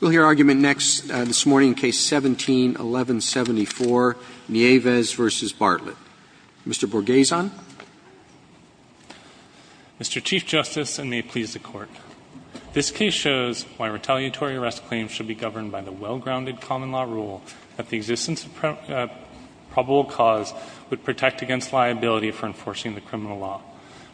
We'll hear argument next, this morning, case 17-1174, Nieves v. Bartlett. Mr. Borgeson. Mr. Chief Justice, and may it please the Court, this case shows why retaliatory arrest claims should be governed by the well-grounded common law rule that the existence of probable cause would protect against liability for enforcing the criminal law.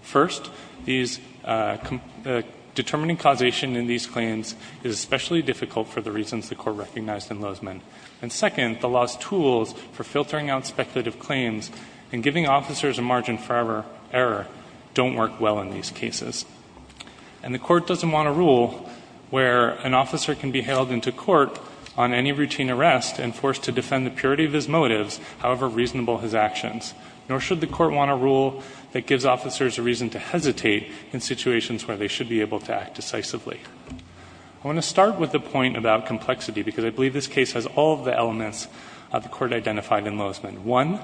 First, determining causation in these claims is especially difficult for the reasons the Court recognized in Lozman. And second, the law's tools for filtering out speculative claims and giving officers a margin for error don't work well in these cases. And the Court doesn't want a rule where an officer can be held into court on any routine arrest and forced to defend the purity of his motives, however reasonable his actions. Nor should the Court want a rule that gives officers a reason to hesitate in situations where they should be able to act decisively. I want to start with a point about complexity, because I believe this case has all of the elements the Court identified in Lozman. One,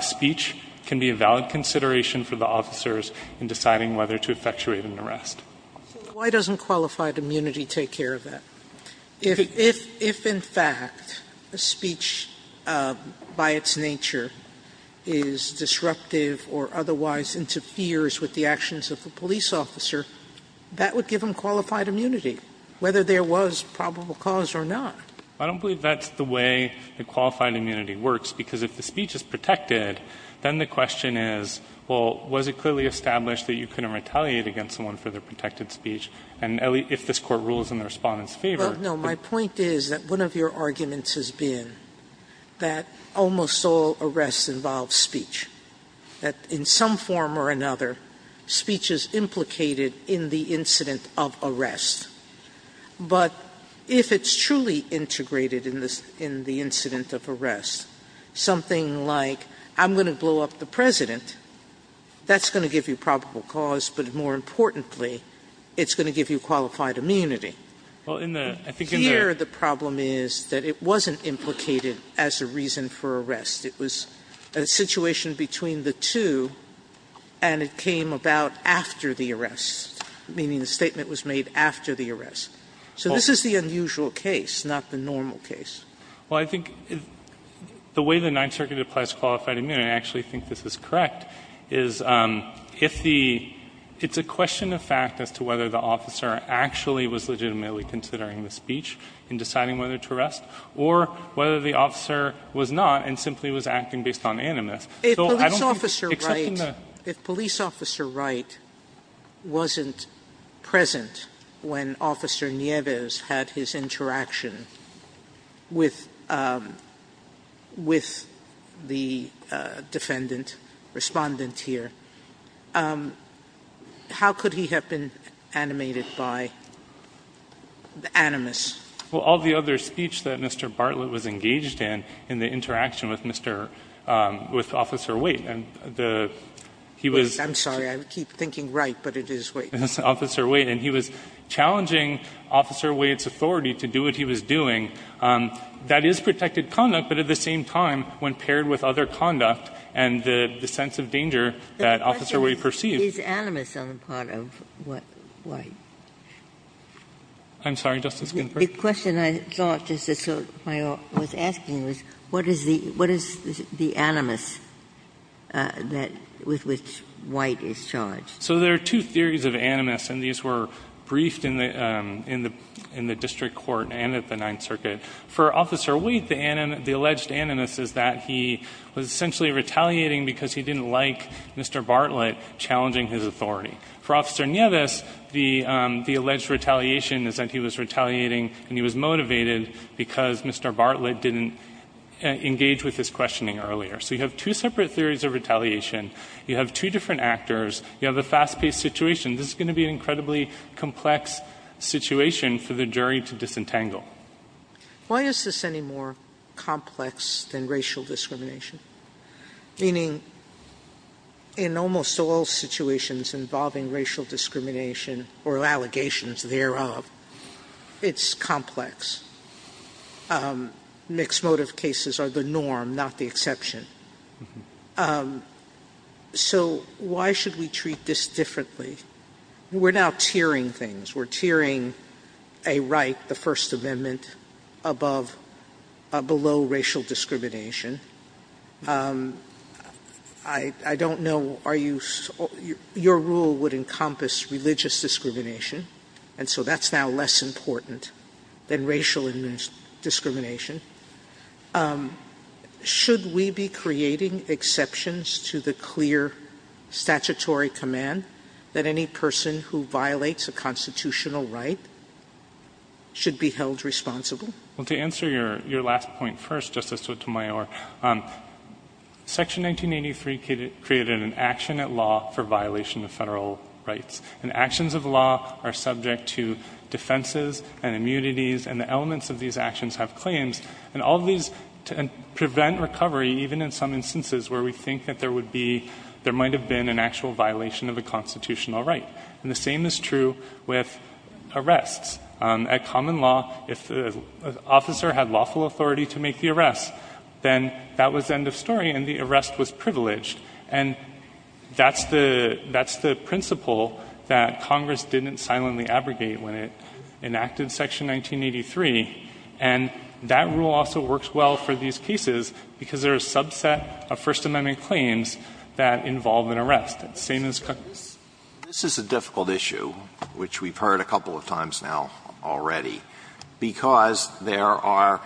speech can be a valid consideration for the officers in deciding whether to effectuate an arrest. Sotomayor Why doesn't qualified immunity take care of that? If in fact a speech by its nature is disruptive or otherwise interferes with the actions of the police officer, that would give them qualified immunity, whether there was probable cause or not. I don't believe that's the way the qualified immunity works, because if the speech is protected, then the question is, well, was it clearly established that you couldn't retaliate against someone for their protected speech? And, Ellie, if this Court rules in the Respondent's favor. Sotomayor Well, no. My point is that one of your arguments has been that almost all arrests involve speech, that in some form or another, speech is implicated in the incident of arrest. But if it's truly integrated in the incident of arrest, something like, I'm going to blow up the President, that's going to give you probable cause, but more importantly, it's going to give you qualified immunity. Here, the problem is that it wasn't implicated as a reason for arrest. It was a situation between the two, and it came about after the arrest, meaning the statement was made after the arrest. So this is the unusual case, not the normal case. Well, I think the way the Ninth Circuit applies qualified immunity, and I actually think this is correct, is if the – it's a question of fact as to whether the officer actually was legitimately considering the speech and deciding whether to arrest or whether the officer was not and simply acting based on animus. Sotomayor If police officer Wright wasn't present when Officer Nieves had his interaction with the defendant, Respondent, here, how could he have been animated by the animus? Fisher Well, all the other speech that Mr. Bartlett was engaged in, in the interaction with Mr. – with Officer Waite, and the – he was – Sotomayor I'm sorry. I keep thinking Wright, but it is Waite. Fisher It was Officer Waite, and he was challenging Officer Waite's authority to do what he was doing. That is protected conduct, but at the same time, when paired with other conduct and the sense of danger that Officer Waite perceived. Ginsburg Is animus on the part of Waite? Fisher I'm sorry, Justice Ginsburg. Ginsburg The question I thought, Justice Sotomayor, was asking was what is the – what is the animus that – with which Waite is charged? Fisher So there are two theories of animus, and these were briefed in the – in the district court and at the Ninth Circuit. For Officer Waite, the animus – the alleged animus is that he was essentially retaliating because he didn't like Mr. Bartlett challenging his authority. For Officer Nieves, the – the alleged retaliation is that he was retaliating and he was motivated because Mr. Bartlett didn't engage with his questioning earlier. So you have two separate theories of retaliation. You have two different actors. You have a fast-paced situation. This is going to be an incredibly complex situation for the jury to disentangle. Sotomayor Why is this any more complex than racial discrimination? Meaning in almost all situations involving racial discrimination or allegations thereof, it's complex. Mixed motive cases are the norm, not the exception. So why should we treat this differently? We're now tiering things. We're tiering a right, the First Amendment, above – below racial discrimination. I don't know – are you – your rule would encompass religious discrimination, and so that's now less important than racial discrimination. Should we be creating exceptions to the clear statutory command that any person who violates a constitutional right should be held responsible? Well, to answer your – your last point first, Justice Sotomayor, Section 1983 created an action at law for violation of federal rights. And actions of law are subject to defenses and immunities, and the elements of these actions have claims. And all of these – and prevent recovery even in some instances where we think that there would be – there might have been an actual violation of a constitutional right. And the same is true with arrests. At common law, if the officer had lawful authority to make the arrest, then that was end of story and the arrest was privileged. And that's the – that's the principle that Congress didn't silently abrogate when it enacted Section 1983, and that rule also works well for these cases because there is a subset of First Amendment claims that involve an arrest. It's the same as Congress. This is a difficult issue, which we've heard a couple of times now already, because there are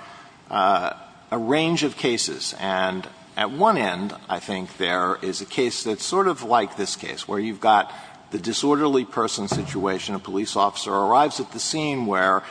a range of cases. And at one end, I think, there is a case that's sort of like this case, where you've got the disorderly person situation. A police officer arrives at the scene where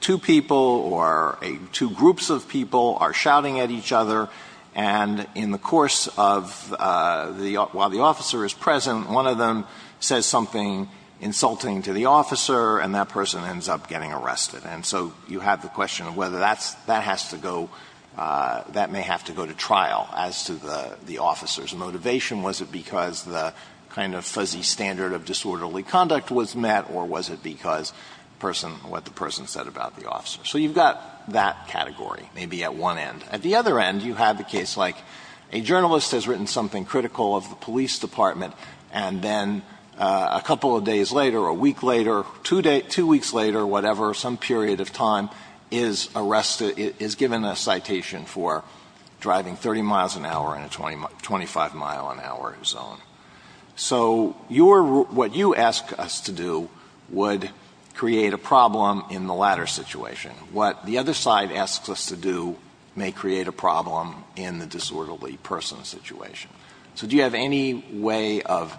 two people or two groups of people are shouting at each other, and in the course of the – while the officer is present, one of them says something insulting to the officer, and that person ends up getting arrested. And so you have the question of whether that's – that has to go – that may have to go to trial as to the officer's motivation. Was it because the kind of fuzzy standard of disorderly conduct was met, or was it because the person – what the person said about the officer? So you've got that category, maybe, at one end. At the other end, you have a case like a journalist has written something critical of the police department, and then a couple of days later, a week later, two weeks later, whatever, some period of time, is arrested – is given a citation for driving 30 miles an hour in a 25-mile-an-hour zone. So your – what you ask us to do would create a problem in the latter situation. What the other side asks us to do may create a problem in the disorderly person situation. So do you have any way of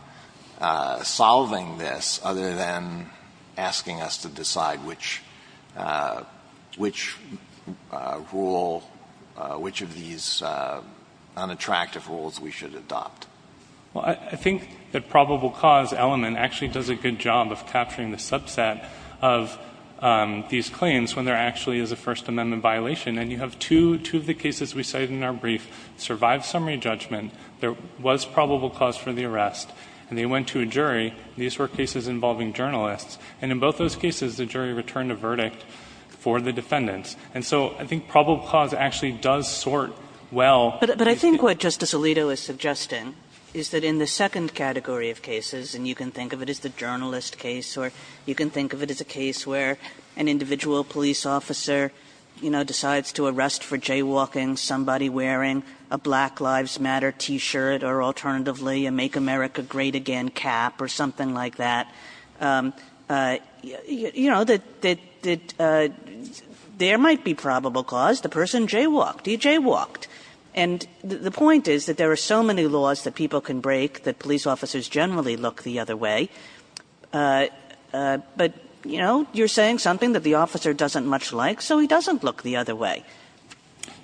solving this other than asking us to decide which – which rule – which of these unattractive rules we should adopt? Well, I think the probable cause element actually does a good job of capturing the subset of these claims when there actually is a First Amendment violation. And you have two – two of the cases we cited in our brief survived summary judgment. There was probable cause for the arrest, and they went to a jury. These were cases involving journalists. And in both those cases, the jury returned a verdict for the defendants. And so I think probable cause actually does sort well. But I think what Justice Alito is suggesting is that in the second category of cases – and you can think of it as the journalist case or you can think of it as a case where an individual police officer, you know, decides to arrest for jaywalking somebody wearing a Black Lives Matter T-shirt or alternatively a Make America Great Again cap or something like that – you know, that – that there might be probable cause. The person jaywalked. He jaywalked. And the point is that there are so many laws that people can break that police officers generally look the other way. But, you know, you're saying something that the officer doesn't much like, so he doesn't look the other way.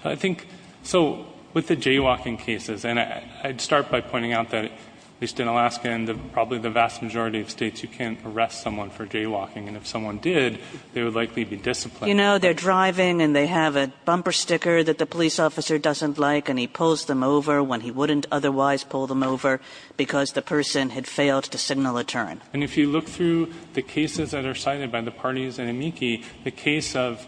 I think – so with the jaywalking cases, and I'd start by pointing out that at least in Alaska and probably the vast majority of states, you can't arrest someone for jaywalking. And if someone did, they would likely be disciplined. You know, they're driving, and they have a bumper sticker that the police officer doesn't like, and he pulls them over when he wouldn't otherwise pull them over because the person had failed to signal a turn. And if you look through the cases that are cited by the parties in amici, the case of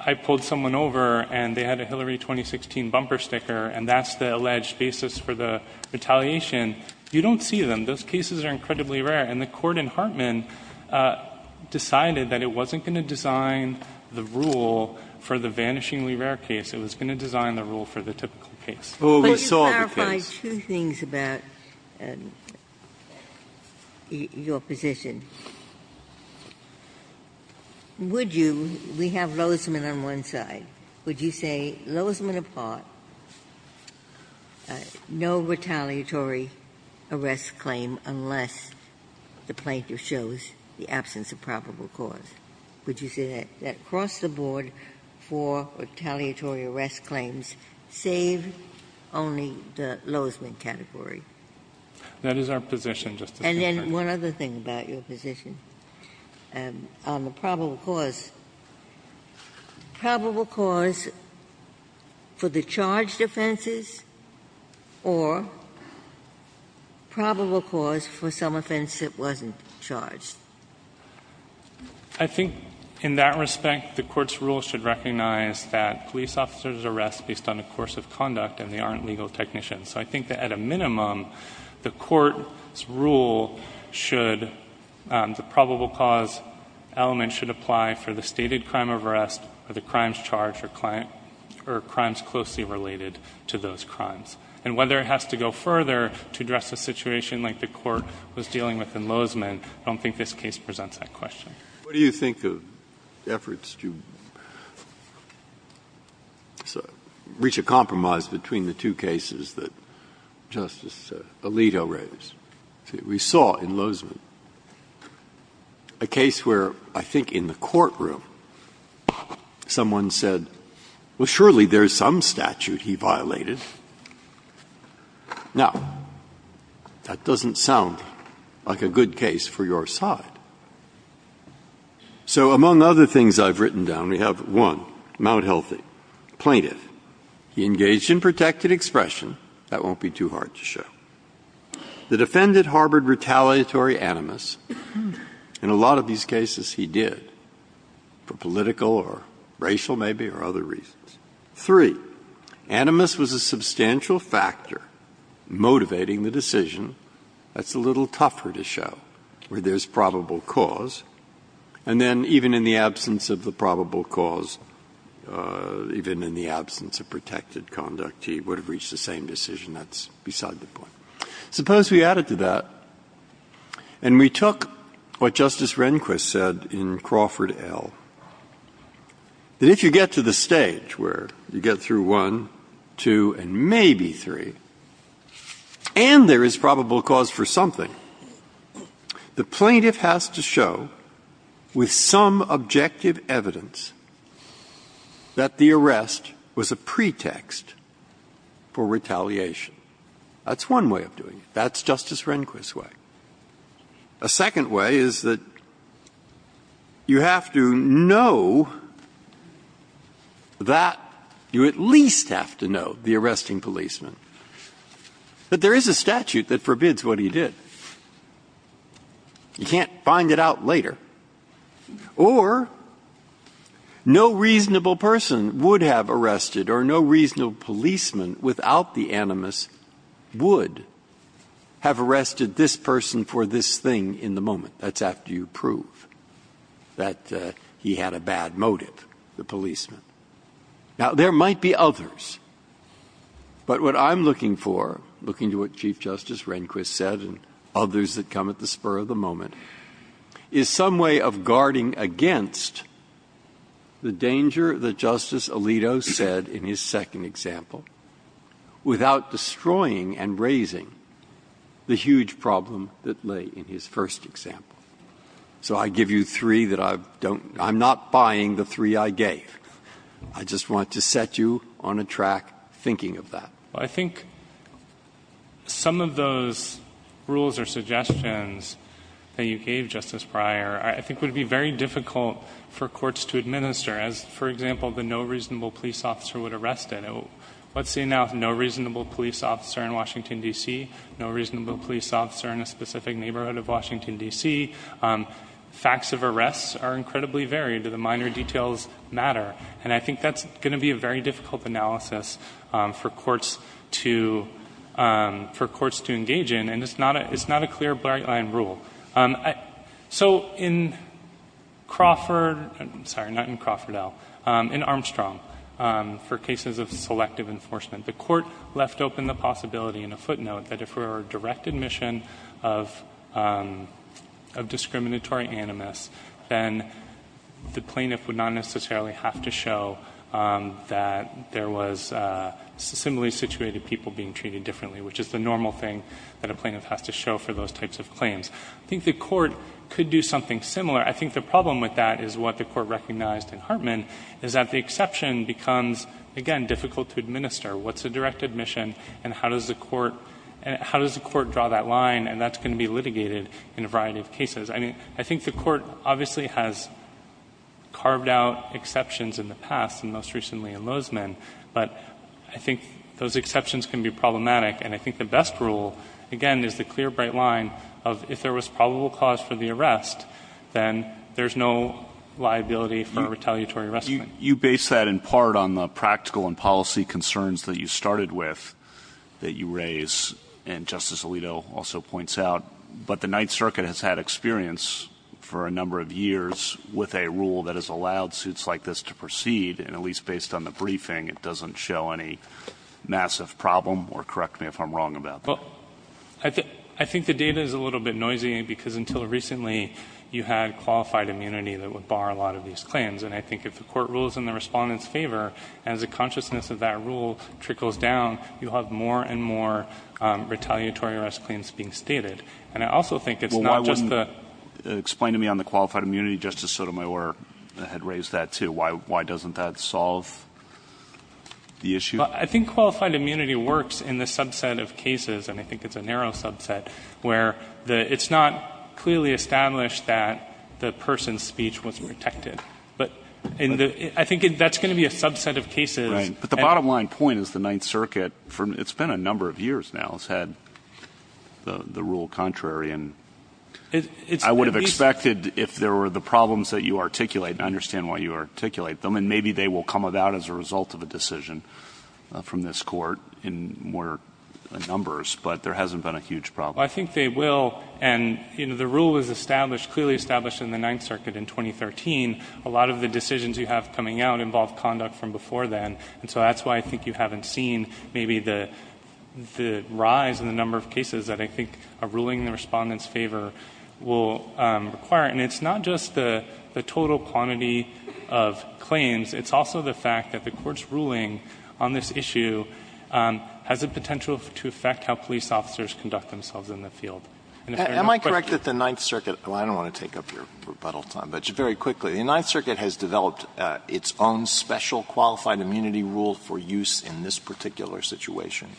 I pulled someone over, and they had a Hillary 2016 bumper sticker, and that's the alleged basis for the retaliation, you don't see them. Those cases are incredibly rare. And the court in Hartman decided that it wasn't going to design the rule for the vanishingly rare case. It was going to design the rule for the typical case. Oh, we saw the case. Ginsburg. My two things about your position. Would you, we have Lozman on one side. Would you say, Lozman apart, no retaliatory arrest claim unless the plaintiff shows the absence of probable cause? Would you say that across the board, four retaliatory arrest claims save only the Lozman category? That is our position, Justice Ginsburg. And then one other thing about your position. On the probable cause. Probable cause for the charged offenses or probable cause for some offense that wasn't charged? I think in that respect, the court's rule should recognize that police officers are arrested based on the course of conduct and they aren't legal technicians. So I think that at a minimum, the court's rule should, the probable cause element should apply for the stated crime of arrest or the crimes charged or crimes closely related to those crimes. And whether it has to go further to address a situation like the court was dealing with in Lozman, I don't think this case presents that question. Breyer. What do you think of efforts to reach a compromise between the two cases that Justice Alito raised? We saw in Lozman a case where I think in the courtroom someone said, well, surely there's some statute he violated. Now, that doesn't sound like a good case for your side. So among other things I've written down, we have one, Mount Healthy, plaintiff. He engaged in protected expression. That won't be too hard to show. The defendant harbored retaliatory animus. In a lot of these cases, he did, for political or racial maybe or other reasons. Three, animus was a substantial factor motivating the decision. That's a little tougher to show, where there's probable cause. And then even in the absence of the probable cause, even in the absence of protected conduct, he would have reached the same decision. That's beside the point. Suppose we added to that, and we took what Justice Rehnquist said in Crawford L., that if you get to the stage where you get through one, two, and maybe three, and there is probable cause for something, the plaintiff has to show, with some objective evidence, that the arrest was a pretext for retaliation. That's one way of doing it. That's Justice Rehnquist's way. A second way is that you have to know that you at least have to know the arresting that there is a statute that forbids what he did. You can't find it out later. Or no reasonable person would have arrested or no reasonable policeman without the animus would have arrested this person for this thing in the moment. That's after you prove that he had a bad motive, the policeman. Now, there might be others. But what I'm looking for, looking to what Chief Justice Rehnquist said and others that come at the spur of the moment, is some way of guarding against the danger that Justice Alito said in his second example without destroying and raising the huge problem that lay in his first example. So I give you three that I don't – I'm not buying the three I gave. I just want to set you on a track thinking of that. Well, I think some of those rules or suggestions that you gave, Justice Breyer, I think would be very difficult for courts to administer as, for example, the no reasonable police officer would arrest it. Let's say now no reasonable police officer in Washington, D.C., no reasonable police officer in a specific neighborhood of Washington, D.C. Facts of arrests are incredibly varied. The minor details matter. And I think that's going to be a very difficult analysis for courts to engage in. And it's not a clear-blind rule. So in Crawford – I'm sorry, not in Crawford, Al – in Armstrong, for cases of selective enforcement, the court left open the possibility in a footnote that if there were a direct admission of discriminatory animus, then the plaintiff would not necessarily have to show that there was similarly situated people being treated differently, which is the normal thing that a plaintiff has to show for those types of claims. I think the court could do something similar. I think the problem with that is what the court recognized in Hartman, is that the exception becomes, again, difficult to administer. What's a direct admission? And how does the court draw that line? And that's going to be litigated in a variety of cases. I mean, I think the court obviously has carved out exceptions in the past, and most recently in Lozman. But I think those exceptions can be problematic. And I think the best rule, again, is the clear, bright line of, if there was probable cause for the arrest, then there's no liability for a retaliatory arrest. You base that in part on the practical and policy concerns that you started with that you raise, and Justice Alito also points out. But the Ninth Circuit has had experience for a number of years with a rule that has allowed suits like this to proceed, and at least based on the briefing, it doesn't show any massive problem, or correct me if I'm wrong about that. Well, I think the data is a little bit noisy, because until recently you had qualified immunity that would bar a lot of these claims. And I think if the court rules in the respondent's favor, as the consciousness of that rule trickles down, you'll have more and more retaliatory arrest claims being stated. And I also think it's not just the – Well, why wouldn't – explain to me on the qualified immunity. Justice Sotomayor had raised that, too. Why doesn't that solve the issue? I think qualified immunity works in the subset of cases, and I think it's a narrow subset, where it's not clearly established that the person's speech was protected. But I think that's going to be a subset of cases. Right. But the bottom line point is the Ninth Circuit, it's been a number of years now, has had the rule contrary. And I would have expected if there were the problems that you articulate, and I understand why you articulate them, and maybe they will come about as a result of a decision from this court in more numbers, but there hasn't been a huge problem. Well, I think they will. And, you know, the rule was established, clearly established in the Ninth Circuit in 2013. A lot of the decisions you have coming out involve conduct from before then. And so that's why I think you haven't seen maybe the rise in the number of cases that I think a ruling in the Respondent's favor will require. And it's not just the total quantity of claims. It's also the fact that the Court's ruling on this issue has the potential to affect how police officers conduct themselves in the field. Am I correct that the Ninth Circuit – Well, I don't want to take up your rebuttal time, but just very quickly. The Ninth Circuit has developed its own special qualified immunity rule for use in this particular situation.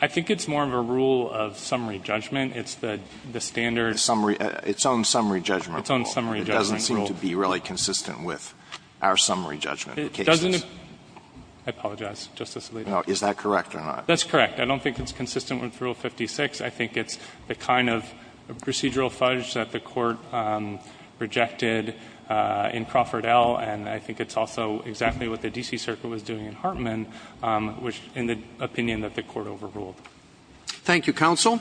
I think it's more of a rule of summary judgment. It's the standard – Summary – its own summary judgment rule. Its own summary judgment rule. It doesn't seem to be really consistent with our summary judgment of cases. It doesn't – I apologize, Justice Alito. No. Is that correct or not? That's correct. I don't think it's consistent with Rule 56. I think it's the kind of procedural fudge that the Court rejected in Crawford L., and I think it's also exactly what the D.C. Circuit was doing in Hartman, in the opinion that the Court overruled. Thank you, counsel.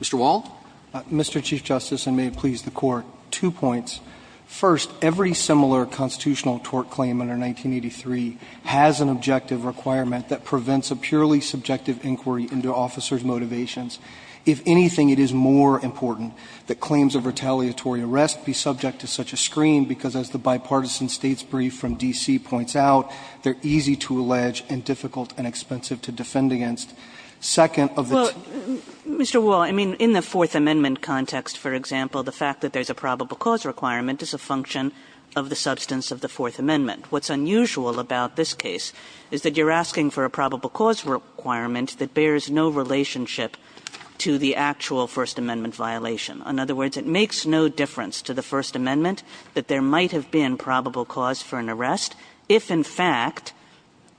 Mr. Wall. Mr. Chief Justice, and may it please the Court, two points. First, every similar constitutional tort claim under 1983 has an objective requirement that prevents a purely subjective inquiry into officers' motivations. If anything, it is more important that claims of retaliatory arrest be subject to such a screen, because as the bipartisan States' brief from D.C. points out, they're easy to allege and difficult and expensive to defend against. Second of the two – Well, Mr. Wall, I mean, in the Fourth Amendment context, for example, the fact that there's a probable cause requirement is a function of the substance of the Fourth Amendment. What's unusual about this case is that you're asking for a probable cause requirement that bears no relationship to the actual First Amendment violation. In other words, it makes no difference to the First Amendment that there might have been probable cause for an arrest if, in fact,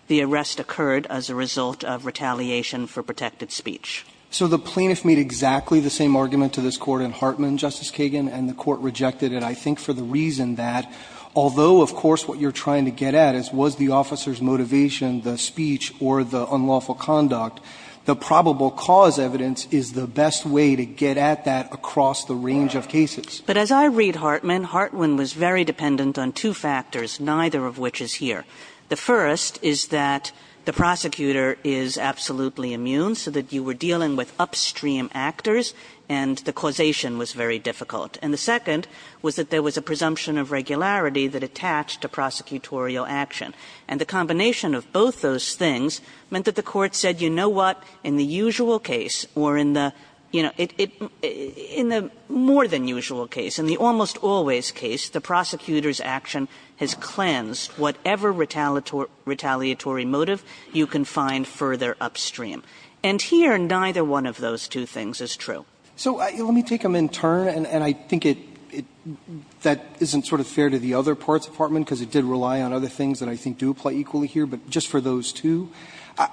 the arrest occurred as a result of retaliation for protected speech. So the plaintiff made exactly the same argument to this Court in Hartman, Justice Kagan, and the Court rejected it, I think, for the reason that although, of course, what you're trying to get at is was the officer's motivation the speech or the unlawful conduct, the probable cause evidence is the best way to get at that across the range of cases. But as I read Hartman, Hartman was very dependent on two factors, neither of which is here. The first is that the prosecutor is absolutely immune, so that you were dealing with upstream actors, and the causation was very difficult. And the second was that there was a presumption of regularity that attached to prosecutorial action. And the combination of both those things meant that the Court said, you know what, in the usual case or in the, you know, in the more than usual case, in the almost always case, the prosecutor's action has cleansed whatever retaliatory motive you can find further upstream. And here, neither one of those two things is true. So let me take them in turn, and I think that isn't sort of fair to the other parts of Hartman, because it did rely on other things that I think do apply equally here, but just for those two,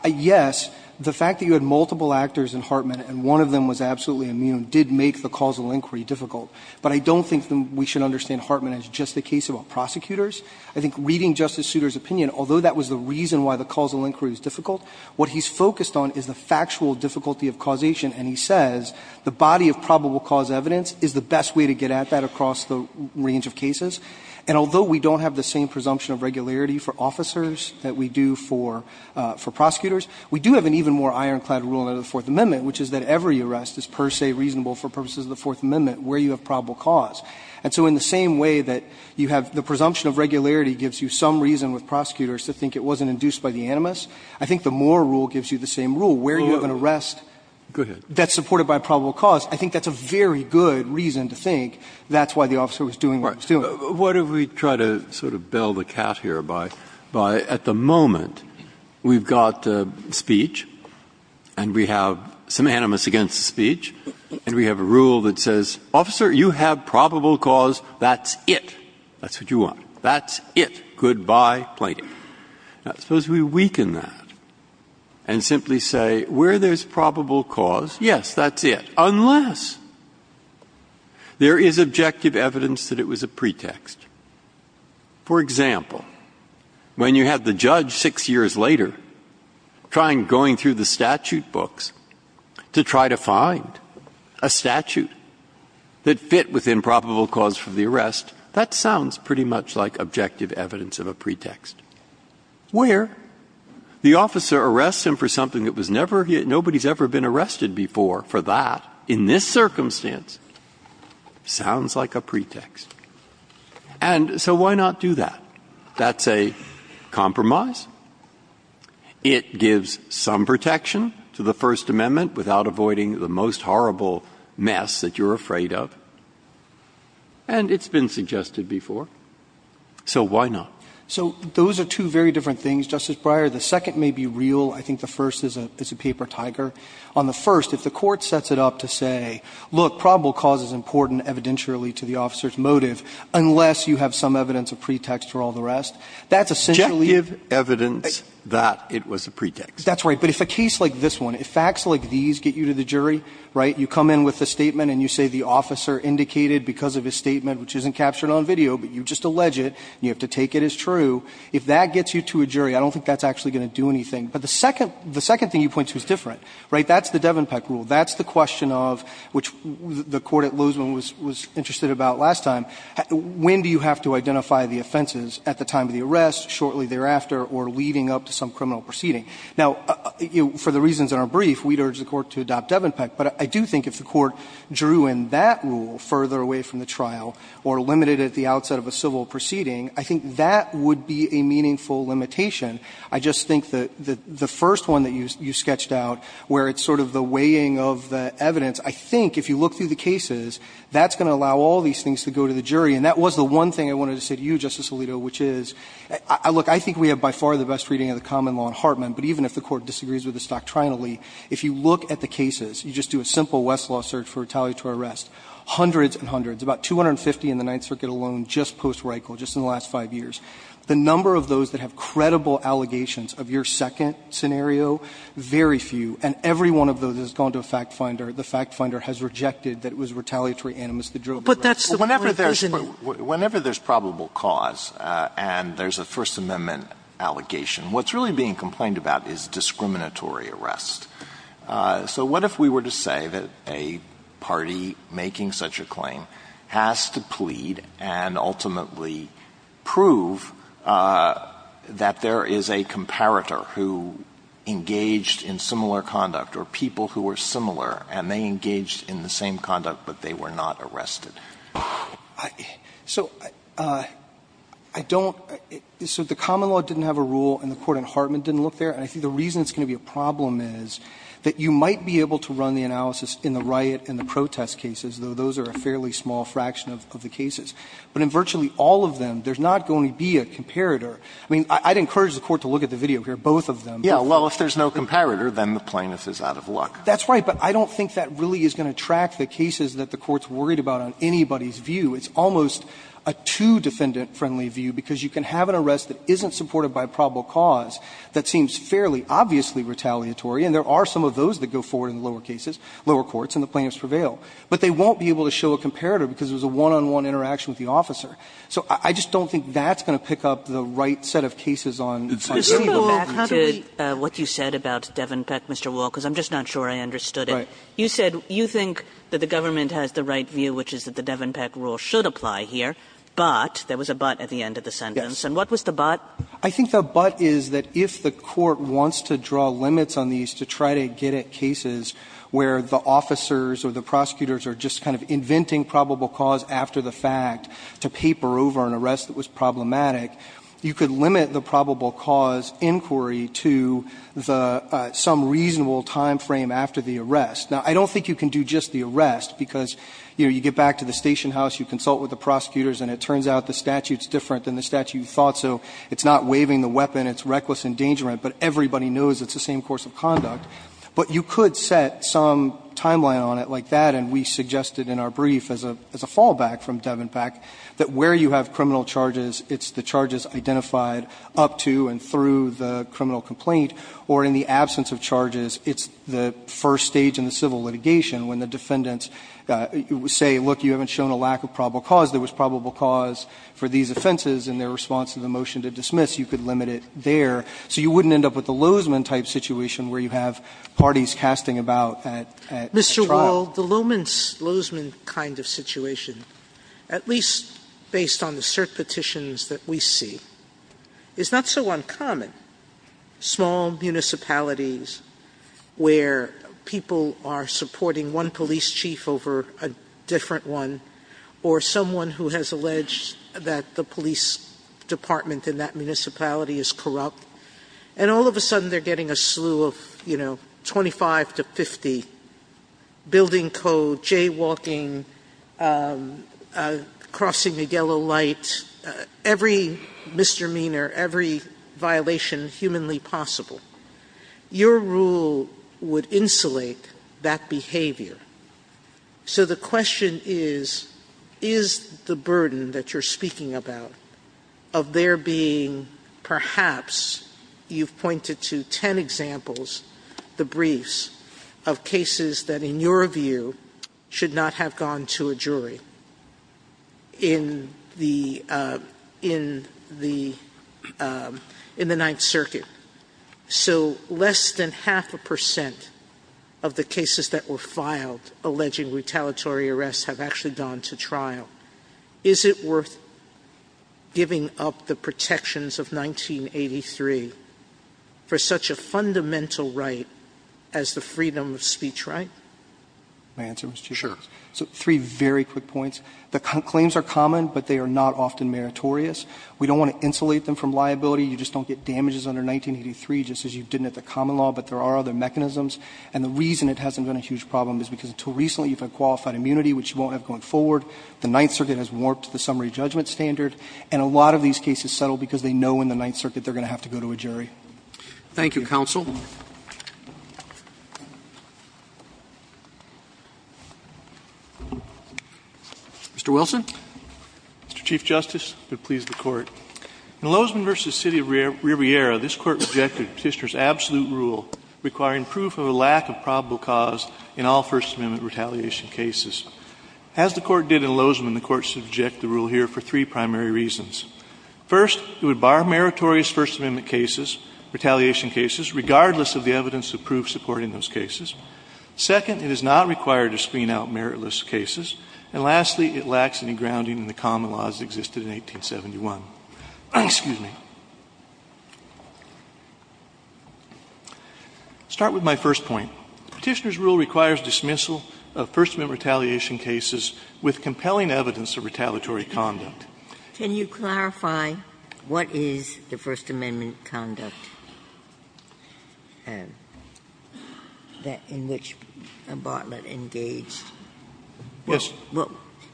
yes, the fact that you had multiple actors in Hartman and one of them was absolutely immune did make the causal inquiry difficult. But I don't think we should understand Hartman as just a case about prosecutors. I think reading Justice Souter's opinion, although that was the reason why the causal inquiry was difficult, what he's focused on is the factual difficulty of causation, and he says the body of probable cause evidence is the best way to get at that across the range of cases. And although we don't have the same presumption of regularity for officers that we do for prosecutors, we do have an even more ironclad rule under the Fourth Amendment, which is that every arrest is per se reasonable for purposes of the Fourth Amendment where you have probable cause. And so in the same way that you have the presumption of regularity gives you some reason with prosecutors to think it wasn't induced by the animus, I think the Moore rule gives you the same rule where you have an arrest that's supported by probable cause. I think that's a very good reason to think that's why the officer was doing what he was doing. JUSTICE BREYER. What if we try to sort of bell the cat here by at the moment we've got speech and we have some animus against the speech and we have a rule that says, officer, you have probable cause, that's it. That's what you want. That's it. Goodbye, plaintiff. Now, suppose we weaken that and simply say where there's probable cause, yes, that's it, unless there is objective evidence that it was a pretext. For example, when you have the judge six years later trying, going through the statute books to try to find a statute that fit with improbable cause for the arrest, that sounds pretty much like objective evidence of a pretext where the officer arrests him for something that nobody's ever been arrested before. For that, in this circumstance, sounds like a pretext. And so why not do that? That's a compromise. It gives some protection to the First Amendment without avoiding the most horrible mess that you're afraid of. And it's been suggested before. So why not? CHIEF JUSTICE ROBERTS. So those are two very different things, Justice Breyer. The second may be real. I think the first is a paper tiger. On the first, if the Court sets it up to say, look, probable cause is important evidentially to the officer's motive unless you have some evidence of pretext for all the rest, that's essentially if the case like this one, if facts like these get you to the jury, right, you come in with a statement and you say the officer indicated because of his statement, which isn't captured on video, but you just allege it and you have to take it as true, if that gets you to a jury, I don't think that's actually going to do anything. But the second thing you point to is different, right? That's the Devenpeck rule. That's the question of, which the Court at Lozeman was interested about last time, when do you have to identify the offenses at the time of the arrest, shortly thereafter, or leading up to some criminal proceeding? Now, for the reasons in our brief, we'd urge the Court to adopt Devenpeck. But I do think if the Court drew in that rule further away from the trial or limited it at the outset of a civil proceeding, I think that would be a meaningful limitation. I just think that the first one that you sketched out, where it's sort of the weighing of the evidence, I think if you look through the cases, that's going to allow all these things to go to the jury, and that was the one thing I wanted to say to you, Justice Alito, which is, look, I think we have by far the best reading of the common law in Hartman, but even if the Court disagrees with us doctrinally, if you look at the cases, you just do a simple Westlaw search for retaliatory arrest, hundreds and hundreds, about 250 in the Ninth Circuit alone just post-Reichel, just in the last 5 years. The number of those that have credible allegations of your second scenario, very few. And every one of those has gone to a fact finder. The fact finder has rejected that it was retaliatory animus that drove the arrest. Sotomayor, whenever there's probable cause and there's a First Amendment allegation, what's really being complained about is discriminatory arrest. So what if we were to say that a party making such a claim has to plead and ultimately prove that there is a comparator who engaged in similar conduct or people who were similar and they engaged in the same conduct but they were not arrested? So I don't – so the common law didn't have a rule and the court in Hartman didn't look there, and I think the reason it's going to be a problem is that you might be able to run the analysis in the riot and the protest cases, though those are a fairly small fraction of the cases. But in virtually all of them, there's not going to be a comparator. I mean, I'd encourage the Court to look at the video here, both of them. Alito, if there's no comparator, then the plaintiff is out of luck. That's right, but I don't think that really is going to track the cases that the Court's worried about on anybody's view. It's almost a two-defendant-friendly view because you can have an arrest that isn't supported by probable cause that seems fairly obviously retaliatory and there are some of those that go forward in the lower cases, lower courts, and the plaintiffs prevail, but they won't be able to show a comparator because it was a one-on-one interaction with the officer. So I just don't think that's going to pick up the right set of cases on the city. Kagan. Kagan. I think the but is that if the Court wants to draw limits on these to try to get at cases where the officers or the prosecutors are just kind of inventing probable cause after the fact to paper over an arrest that was problematic, you could limit the probable cause inquiry to the some reasonable time frame after the arrest. Now, I don't think you can do just the arrest because, you know, you get back to the station house, you consult with the prosecutors, and it turns out the statute's not waiving the weapon. It's reckless endangerment. But everybody knows it's the same course of conduct. But you could set some timeline on it like that, and we suggested in our brief as a fallback from Devenpak that where you have criminal charges, it's the charges identified up to and through the criminal complaint, or in the absence of charges, it's the first stage in the civil litigation when the defendants say, look, you haven't shown a lack of probable cause. There was probable cause for these offenses in their response to the motion to dismiss. You could limit it there. So you wouldn't end up with the Lozman type situation where you have parties casting about at trial. Sotomayor, Mr. Wall, the Lozman kind of situation, at least based on the cert petitions that we see, is not so uncommon. Small municipalities where people are supporting one police chief over a different one, or someone who has alleged that the police department in that municipality is corrupt, and all of a sudden they're getting a slew of, you know, 25 to 50, building code, jaywalking, crossing a yellow light, every misdemeanor, every violation humanly possible. Your rule would insulate that behavior. So the question is, is the burden that you're speaking about of there being perhaps you've pointed to ten examples, the briefs, of cases that in your view should not have gone to a jury in the Ninth Circuit. So less than half a percent of the cases that were filed alleging retaliatory arrests have actually gone to trial. Is it worth giving up the protections of 1983 for such a fundamental right as the freedom of speech right? My answer, Mr. Chief Justice? Sure. So three very quick points. The claims are common, but they are not often meritorious. We don't want to insulate them from liability. You just don't get damages under 1983 just as you didn't at the common law. But there are other mechanisms. And the reason it hasn't been a huge problem is because until recently you've had qualified immunity, which you won't have going forward. The Ninth Circuit has warped the summary judgment standard. And a lot of these cases settle because they know in the Ninth Circuit they're going to have to go to a jury. Thank you, counsel. Mr. Wilson. Mr. Chief Justice, and please the Court. In Lozman v. City of Riviera, this Court rejected the Petitioner's absolute rule requiring proof of a lack of probable cause in all First Amendment retaliation cases. As the Court did in Lozman, the Court should reject the rule here for three primary reasons. First, it would bar meritorious First Amendment cases, retaliation cases, regardless of the evidence of proof supporting those cases. Second, it is not required to screen out meritless cases. And lastly, it lacks any grounding in the common laws that existed in 1871. Excuse me. I'll start with my first point. The Petitioner's rule requires dismissal of First Amendment retaliation cases with compelling evidence of retaliatory conduct. Ginsburg. Can you clarify what is the First Amendment conduct in which Bartlett engaged? Yes.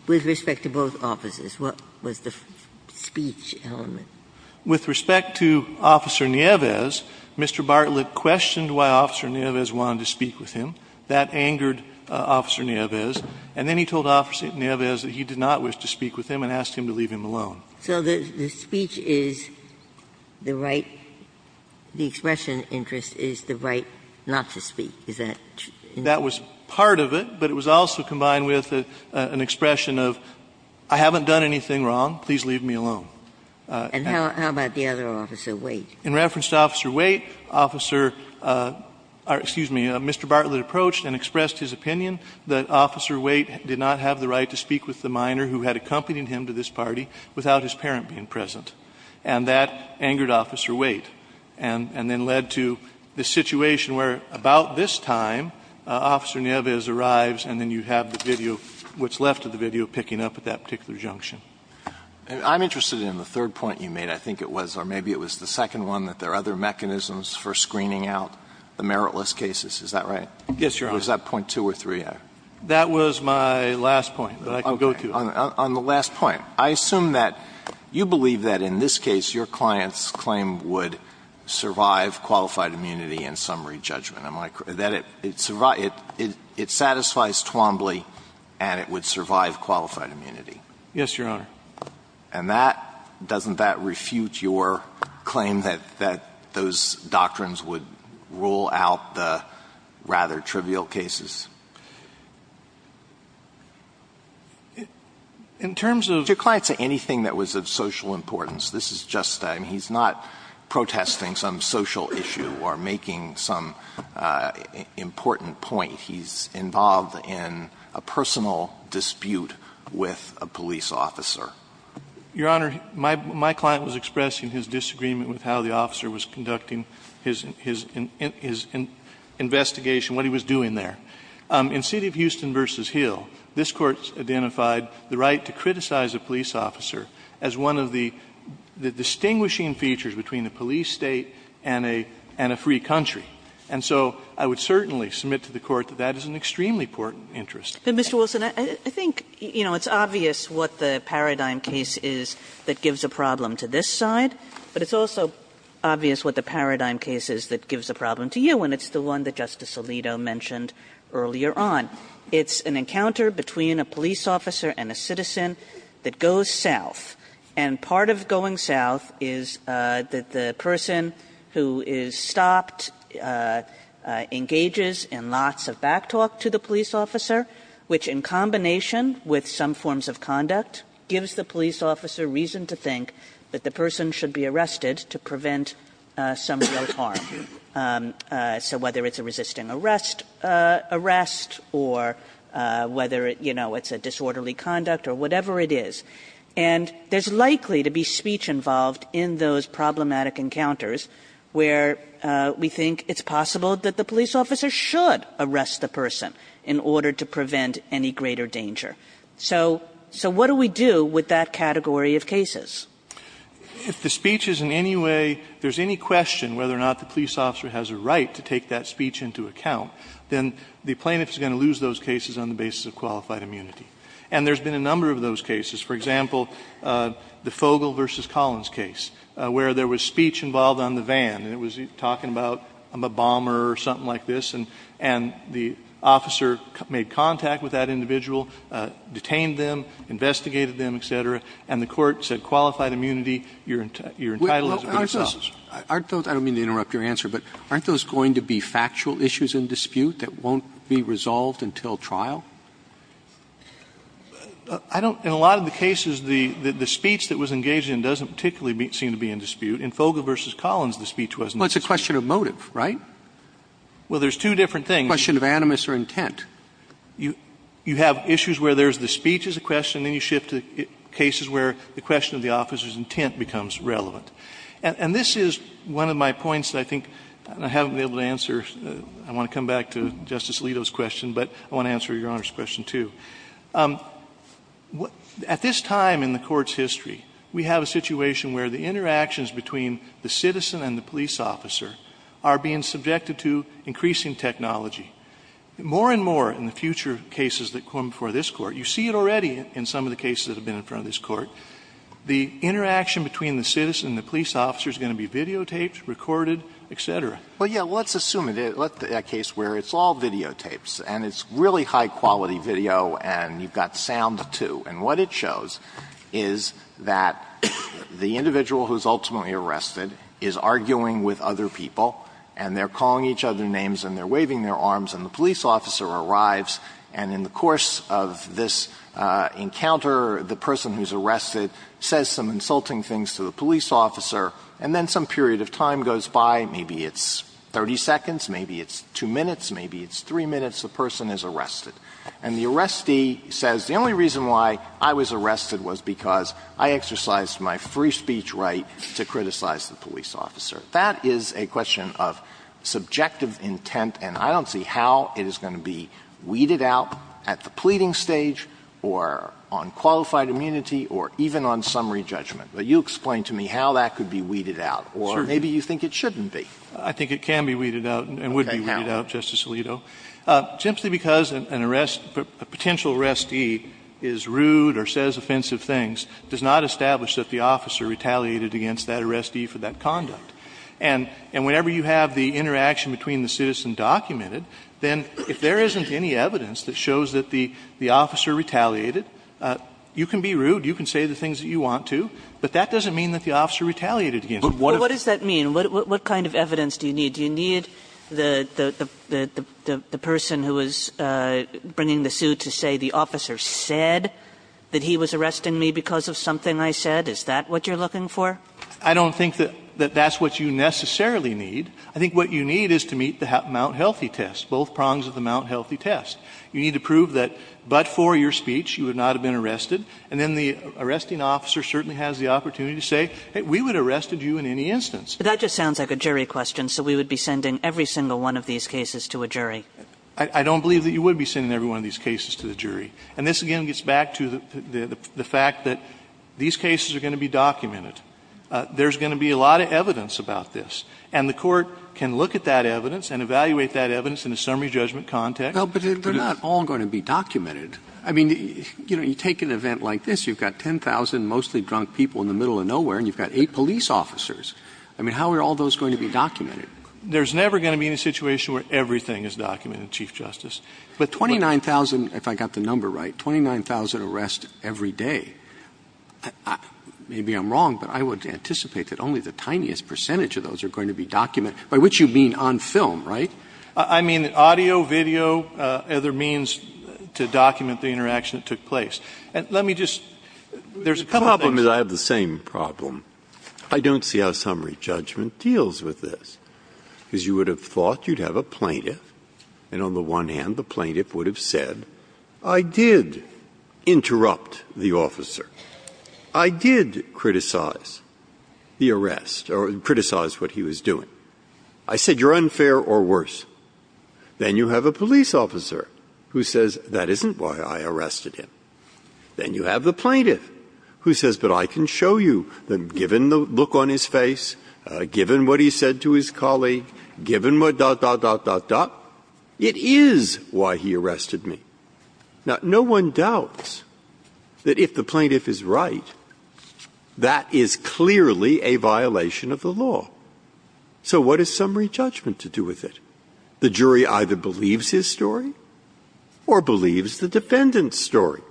With respect to both offices. What was the speech element? With respect to Officer Nieves, Mr. Bartlett questioned why Officer Nieves wanted to speak with him. That angered Officer Nieves. And then he told Officer Nieves that he did not wish to speak with him and asked him to leave him alone. So the speech is the right, the expression of interest is the right not to speak. Is that true? That was part of it, but it was also combined with an expression of I haven't done anything wrong, please leave me alone. And how about the other Officer Waite? In reference to Officer Waite, Officer or, excuse me, Mr. Bartlett approached and expressed his opinion that Officer Waite did not have the right to speak with the minor who had accompanied him to this party without his parent being present. And that angered Officer Waite and then led to the situation where about this time Officer Nieves arrives and then you have the video, what's left of the video, picking up at that particular junction. I'm interested in the third point you made, I think it was, or maybe it was the second one, that there are other mechanisms for screening out the meritless cases. Is that right? Yes, Your Honor. Was that point two or three? That was my last point, but I can go to it. On the last point, I assume that you believe that in this case your client's claim would survive qualified immunity and summary judgment. It satisfies Twombly and it would survive qualified immunity. Yes, Your Honor. And that, doesn't that refute your claim that those doctrines would rule out the rather trivial cases? In terms of the client's anything that was of social importance, this is just, I mean, he's not protesting some social issue or making some important point. He's involved in a personal dispute with a police officer. Your Honor, my client was expressing his disagreement with how the officer was conducting his investigation, what he was doing there. In City of Houston v. Hill, this Court identified the right to criticize a police officer as one of the distinguishing features between a police State and a free country. And so I would certainly submit to the Court that that is an extremely important interest. But, Mr. Wilson, I think, you know, it's obvious what the paradigm case is that gives a problem to this side, but it's also obvious what the paradigm case is that gives a problem to you, and it's the one that Justice Alito mentioned earlier on. It's an encounter between a police officer and a citizen that goes south. And part of going south is that the person who is stopped engages in lots of backtalk to the police officer, which, in combination with some forms of conduct, gives the police officer reason to think that the person should be arrested to prevent some real harm. So whether it's a resisting arrest, arrest, or whether, you know, it's a disorderly conduct or whatever it is. And there's likely to be speech involved in those problematic encounters where we think it's possible that the police officer should arrest the person in order to prevent any greater danger. So what do we do with that category of cases? If the speech is in any way, if there's any question whether or not the police officer has a right to take that speech into account, then the plaintiff is going to lose those cases on the basis of qualified immunity. And there's been a number of those cases. For example, the Fogle v. Collins case, where there was speech involved on the van and it was talking about a bomber or something like this, and the officer made contact with that individual, detained them, investigated them, et cetera, and the court said qualified immunity, you're entitled as a police officer. Robertson, I don't mean to interrupt your answer, but aren't those going to be factual issues in dispute that won't be resolved until trial? I don't – in a lot of the cases, the speech that was engaged in doesn't particularly seem to be in dispute. In Fogle v. Collins, the speech wasn't in dispute. Robertson, Well, it's a question of motive, right? Well, there's two different things. Robertson, A question of animus or intent. You have issues where there's the speech as a question, then you shift to cases where the question of the officer's intent becomes relevant. And this is one of my points that I think I haven't been able to answer. I want to come back to Justice Alito's question, but I want to answer Your Honor's question, too. At this time in the Court's history, we have a situation where the interactions between the citizen and the police officer are being subjected to increasing technology. More and more in the future cases that come before this Court, you see it already in some of the cases that have been in front of this Court, the interaction between the citizen and the police officer is going to be videotaped, recorded, et cetera. Well, yeah, let's assume it is a case where it's all videotapes, and it's really high-quality video, and you've got sound, too. And what it shows is that the individual who's ultimately arrested is arguing with other people, and they're calling each other names, and they're waving their hands, and the person who's arrested says some insulting things to the police officer, and then some period of time goes by, maybe it's 30 seconds, maybe it's 2 minutes, maybe it's 3 minutes, the person is arrested. And the arrestee says, the only reason why I was arrested was because I exercised my free speech right to criticize the police officer. That is a question of subjective intent, and I don't see how it is going to be weeded out at the pleading stage, or on qualified immunity, or even on summary judgment. But you explain to me how that could be weeded out, or maybe you think it shouldn't be. I think it can be weeded out and would be weeded out, Justice Alito. Simply because an arrest, a potential arrestee is rude or says offensive things does not establish that the officer retaliated against that arrestee for that conduct. And whenever you have the interaction between the citizen documented, then if there isn't any evidence that shows that the officer retaliated, you can be rude, you can say the things that you want to, but that doesn't mean that the officer retaliated against them. Kagan. But what does that mean? What kind of evidence do you need? Do you need the person who is bringing the suit to say the officer said that he was arresting me because of something I said? Is that what you're looking for? I don't think that that's what you necessarily need. I think what you need is to meet the Mount Healthy test, both prongs of the Mount Healthy test. You need to prove that but for your speech you would not have been arrested, and then the arresting officer certainly has the opportunity to say, hey, we would have arrested you in any instance. But that just sounds like a jury question, so we would be sending every single one of these cases to a jury. I don't believe that you would be sending every one of these cases to the jury. And this, again, gets back to the fact that these cases are going to be documented. There's going to be a lot of evidence about this. And the Court can look at that evidence and evaluate that evidence in a summary judgment context. But they're not all going to be documented. I mean, you know, you take an event like this, you've got 10,000 mostly drunk people in the middle of nowhere, and you've got eight police officers. I mean, how are all those going to be documented? There's never going to be a situation where everything is documented, Chief Justice. But 29,000, if I got the number right, 29,000 arrests every day, maybe I'm wrong, but they're going to be documented, by which you mean on film, right? I mean, audio, video, other means to document the interaction that took place. And let me just, there's a couple of things. Breyer, I have the same problem. I don't see how summary judgment deals with this, because you would have thought you'd have a plaintiff, and on the one hand, the plaintiff would have said, I did interrupt the officer, I did criticize the arrest, or criticize what he was doing, I said, you're unfair or worse. Then you have a police officer who says, that isn't why I arrested him. Then you have the plaintiff who says, but I can show you, given the look on his face, given what he said to his colleague, given what dot, dot, dot, dot, dot, it is why he arrested me. Now, no one doubts that if the plaintiff is right, that is clearly a violation of the law. So what is summary judgment to do with it? The jury either believes his story or believes the defendant's story.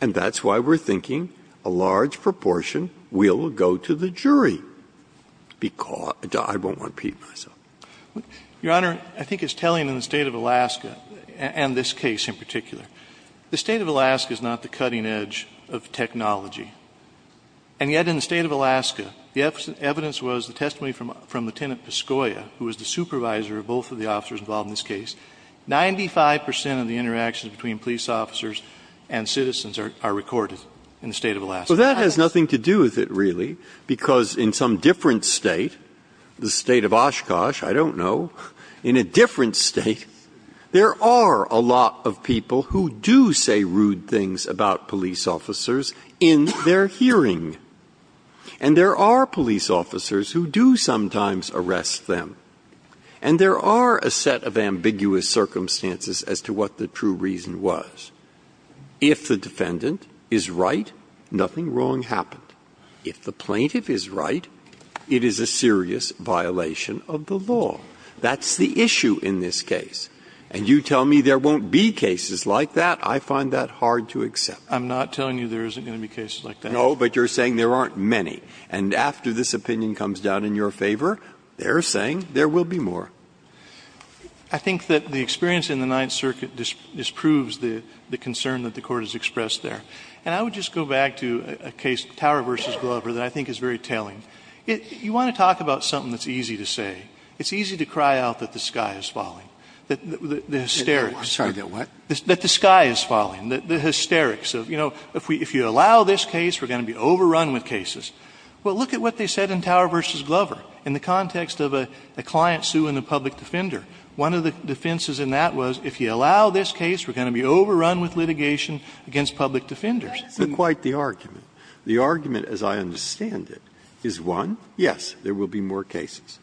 And that's why we're thinking a large proportion will go to the jury. I won't repeat myself. Your Honor, I think it's telling in the State of Alaska, and this case in particular. The State of Alaska is not the cutting edge of technology. And yet in the State of Alaska, the evidence was the testimony from Lieutenant Pascoia, who was the supervisor of both of the officers involved in this case. 95 percent of the interactions between police officers and citizens are recorded in the State of Alaska. Breyer. Well, that has nothing to do with it, really, because in some different State, the State of Oshkosh, I don't know, in a different State, there are a lot of people who do say rude things about police officers in their hearing. And there are police officers who do sometimes arrest them. And there are a set of ambiguous circumstances as to what the true reason was. If the defendant is right, nothing wrong happened. If the plaintiff is right, it is a serious violation of the law. That's the issue in this case. And you tell me there won't be cases like that, I find that hard to accept. I'm not telling you there isn't going to be cases like that. No, but you're saying there aren't many. And after this opinion comes down in your favor, they're saying there will be more. I think that the experience in the Ninth Circuit disproves the concern that the Court has expressed there. And I would just go back to a case, Tower v. Glover, that I think is very telling. You want to talk about something that's easy to say. It's easy to cry out that the sky is falling. The hysterics. That the sky is falling. The hysterics. You know, if you allow this case, we're going to be overrun with cases. Well, look at what they said in Tower v. Glover in the context of a client suing a public defender. One of the defenses in that was, if you allow this case, we're going to be overrun with litigation against public defenders. Breyer's quite the argument. The argument, as I understand it, is, one, yes, there will be more cases.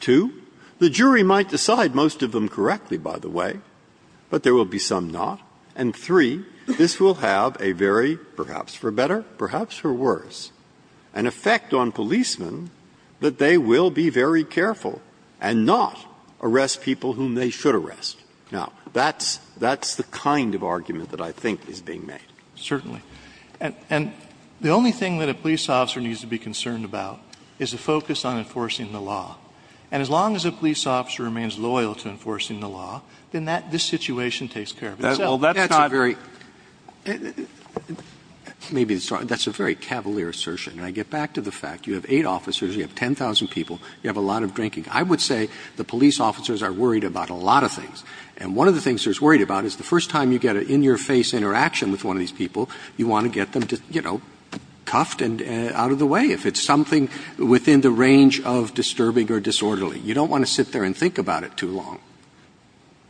Two, the jury might decide most of them correctly, by the way, but there will be some not. And three, this will have a very, perhaps for better, perhaps for worse, an effect on policemen that they will be very careful and not arrest people whom they should arrest. Now, that's the kind of argument that I think is being made. Certainly. And the only thing that a police officer needs to be concerned about is a focus on enforcing the law. And as long as a police officer remains loyal to enforcing the law, then this situation takes care of itself. That's a very cavalier assertion. And I get back to the fact you have eight officers, you have 10,000 people, you have a lot of drinking. I would say the police officers are worried about a lot of things. And one of the things they're worried about is the first time you get an in-your-face interaction with one of these people, you want to get them, you know, cuffed and out of the way. If it's something within the range of disturbing or disorderly, you don't want to sit there and think about it too long.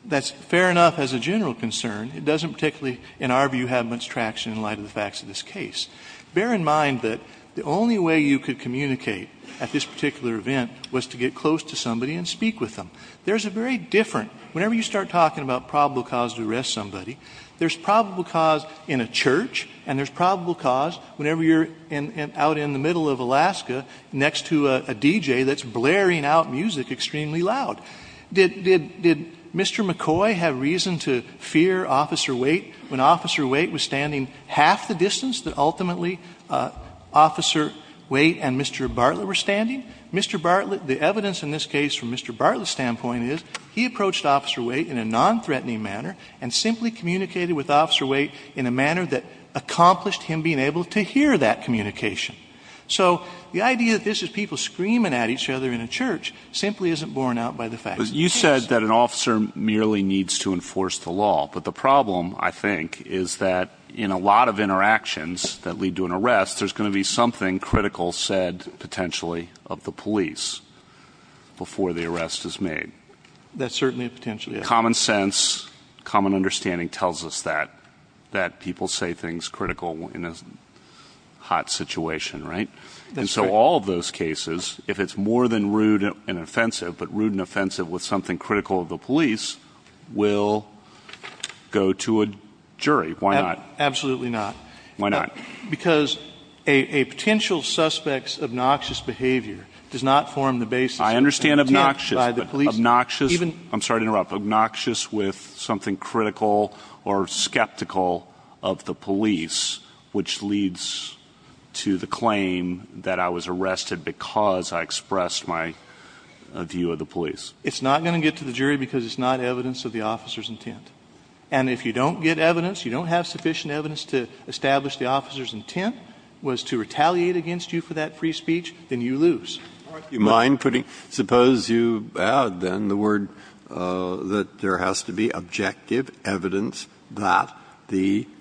That's fair enough as a general concern. It doesn't particularly, in our view, have much traction in light of the facts of this case. Bear in mind that the only way you could communicate at this particular event was to get close to somebody and speak with them. There's a very different – whenever you start talking about probable cause to arrest somebody, there's probable cause in a church and there's probable cause whenever you're out in the middle of Alaska next to a DJ that's blaring out music extremely loud. Did Mr. McCoy have reason to fear Officer Waite when Officer Waite was standing half the distance that ultimately Officer Waite and Mr. Bartlett were standing? Mr. Bartlett – the evidence in this case from Mr. Bartlett's standpoint is he approached Officer Waite in a nonthreatening manner and simply communicated with Officer Waite in a manner that accomplished him being able to hear that communication. So the idea that this is people screaming at each other in a church simply isn't borne out by the facts of the case. You said that an officer merely needs to enforce the law, but the problem, I think, is that in a lot of interactions that lead to an arrest, there's going to be something critical said potentially of the police before the arrest is made. That certainly potentially is. Common sense, common understanding tells us that people say things critical in a hot situation, right? And so all of those cases, if it's more than rude and offensive, but rude and offensive with something critical of the police, will go to a jury. Why not? Absolutely not. Why not? Because a potential suspect's obnoxious behavior does not form the basis of the police. I understand obnoxious, but obnoxious – I'm sorry to interrupt, but obnoxious with something critical or skeptical of the police, which leads to the claim that I was arrested because I expressed my view of the police. It's not going to get to the jury because it's not evidence of the officer's intent. And if you don't get evidence, you don't have sufficient evidence to establish the officer's intent was to retaliate against you for that free speech, then you lose. Or if you mind putting – suppose you add, then, the word that there has to be objective evidence that the –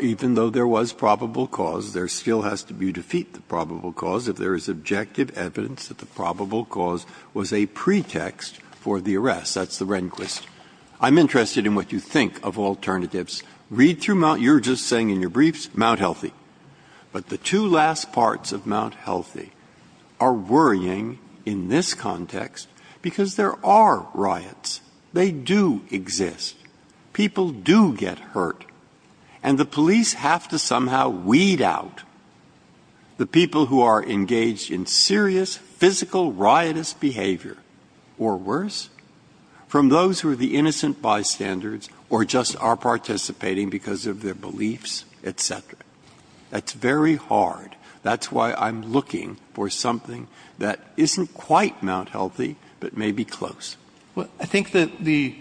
even though there was probable cause, there still has to be defeat the probable cause if there is objective evidence that the probable cause was a pretext for the arrest. That's the Rehnquist. I'm interested in what you think of alternatives. Read through – you're just saying in your briefs, Mount Healthy. But the two last parts of Mount Healthy are worrying in this context because there are riots. They do exist. People do get hurt. And the police have to somehow weed out the people who are engaged in serious, physical, riotous behavior, or worse, from those who are the innocent bystanders or just are participating because of their beliefs, et cetera. That's very hard. That's why I'm looking for something that isn't quite Mount Healthy, but may be close. Well, I think that the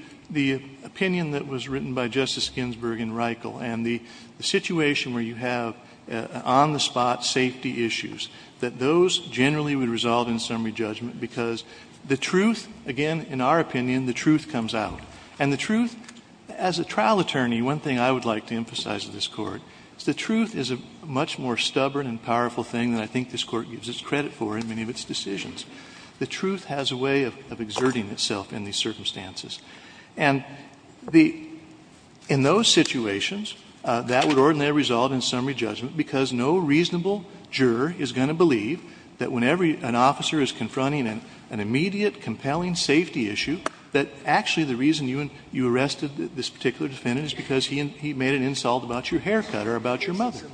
opinion that was written by Justice Ginsburg in Reichel and the situation where you have on-the-spot safety issues, that those generally would result in summary judgment because the truth, again, in our opinion, the truth comes out. And the truth, as a trial attorney, one thing I would like to emphasize to this Court is the truth is a much more stubborn and powerful thing that I think this Court gives its credit for in many of its decisions. The truth has a way of exerting itself in these circumstances. And the – in those situations, that would ordinarily result in summary judgment because no reasonable juror is going to believe that whenever an officer is confronting an immediate, compelling safety issue, that actually the reason you arrested this particular defendant is because he made an insult about your haircut or about your mother. The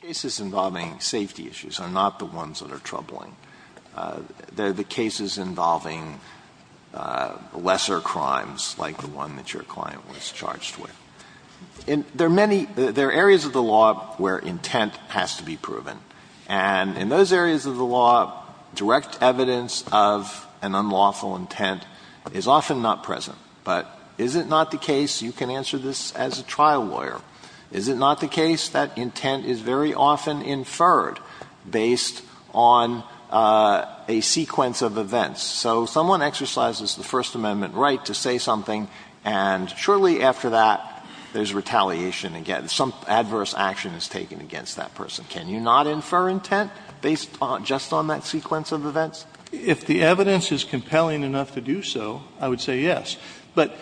cases involving safety issues are not the ones that are troubling. They're the cases involving lesser crimes, like the one that your client was charged with. And there are many – there are areas of the law where intent has to be proven. And in those areas of the law, direct evidence of an unlawful intent is often not present. But is it not the case – you can answer this as a trial lawyer – is it not the case that intent is very often inferred based on a sequence of events? So someone exercises the First Amendment right to say something, and shortly after that, there's retaliation again. Some adverse action is taken against that person. Can you not infer intent based just on that sequence of events? If the evidence is compelling enough to do so, I would say yes. But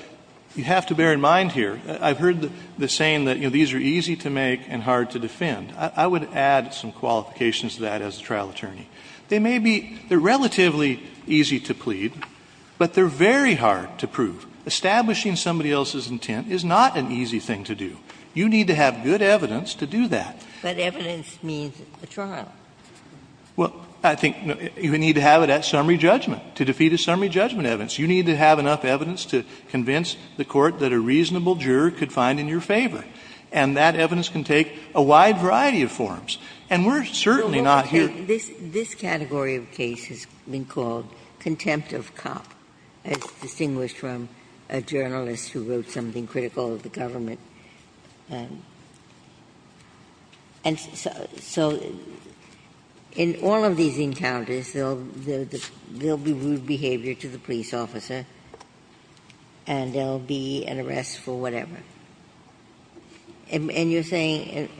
you have to bear in mind here, I've heard the saying that, you know, these are easy to make and hard to defend. I would add some qualifications to that as a trial attorney. They may be – they're relatively easy to plead, but they're very hard to prove. Establishing somebody else's intent is not an easy thing to do. You need to have good evidence to do that. But evidence means a trial. Well, I think you need to have it at summary judgment, to defeat a summary judgment evidence. You need to have enough evidence to convince the Court that a reasonable juror could find in your favor. And that evidence can take a wide variety of forms. And we're certainly not here to do that. This category of case has been called contempt of cop, as distinguished from a journalist who wrote something critical of the government. And so in all of these encounters, there'll be rude behavior to the police officer, and there'll be an arrest for whatever. And you're saying –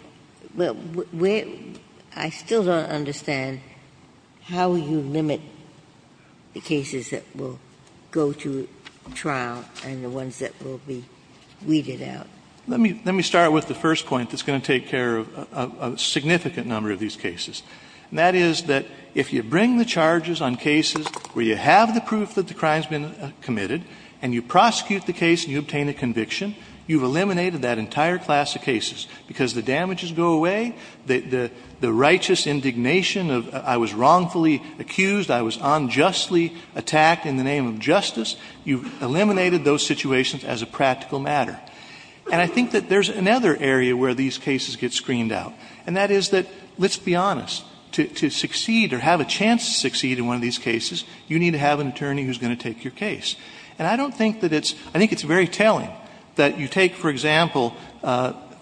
I still don't understand how you limit the cases that will go to trial and the ones that will be weeded out. Let me start with the first point that's going to take care of a significant number of these cases. And that is that if you bring the charges on cases where you have the proof that the crime's been committed, and you prosecute the case and you obtain a conviction, you've eliminated that entire class of cases, because the damages go away, the righteous indignation of I was wrongfully accused, I was unjustly attacked in the name of justice, you've eliminated those situations as a practical matter. And I think that there's another area where these cases get screened out. And that is that, let's be honest, to succeed or have a chance to succeed in one of these cases, you need to have an attorney who's going to take your case. And I don't think that it's – I think it's very telling that you take, for example,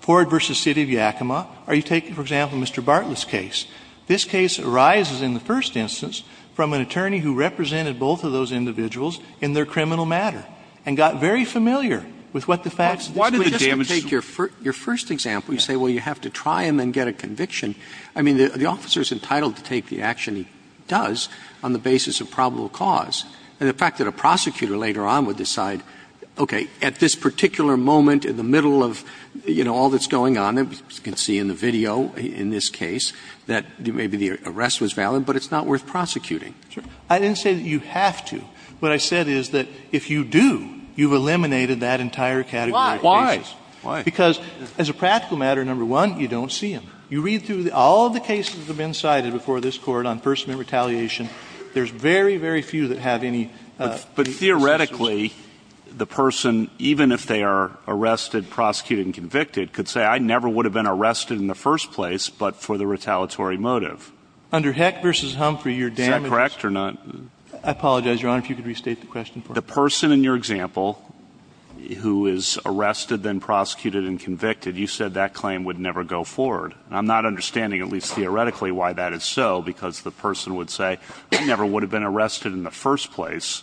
Ford v. City of Yakima, or you take, for example, Mr. Bartlett's case. This case arises in the first instance from an attorney who represented both of those Why did the damage? Your first example, you say, well, you have to try and then get a conviction. I mean, the officer is entitled to take the action he does on the basis of probable cause. And the fact that a prosecutor later on would decide, okay, at this particular moment in the middle of, you know, all that's going on, as you can see in the video in this case, that maybe the arrest was valid, but it's not worth prosecuting. I didn't say that you have to. What I said is that if you do, you've eliminated that entire category. Why? Because as a practical matter, number one, you don't see him. You read through all of the cases that have been cited before this Court on first amendment retaliation. There's very, very few that have any – But theoretically, the person, even if they are arrested, prosecuted, and convicted, could say, I never would have been arrested in the first place but for the retaliatory motive. Under Heck v. Humphrey, your damage – Is that correct or not? I apologize, Your Honor, if you could restate the question for me. The person in your example who is arrested, then prosecuted, and convicted, you said that claim would never go forward. And I'm not understanding, at least theoretically, why that is so, because the person would say, I never would have been arrested in the first place,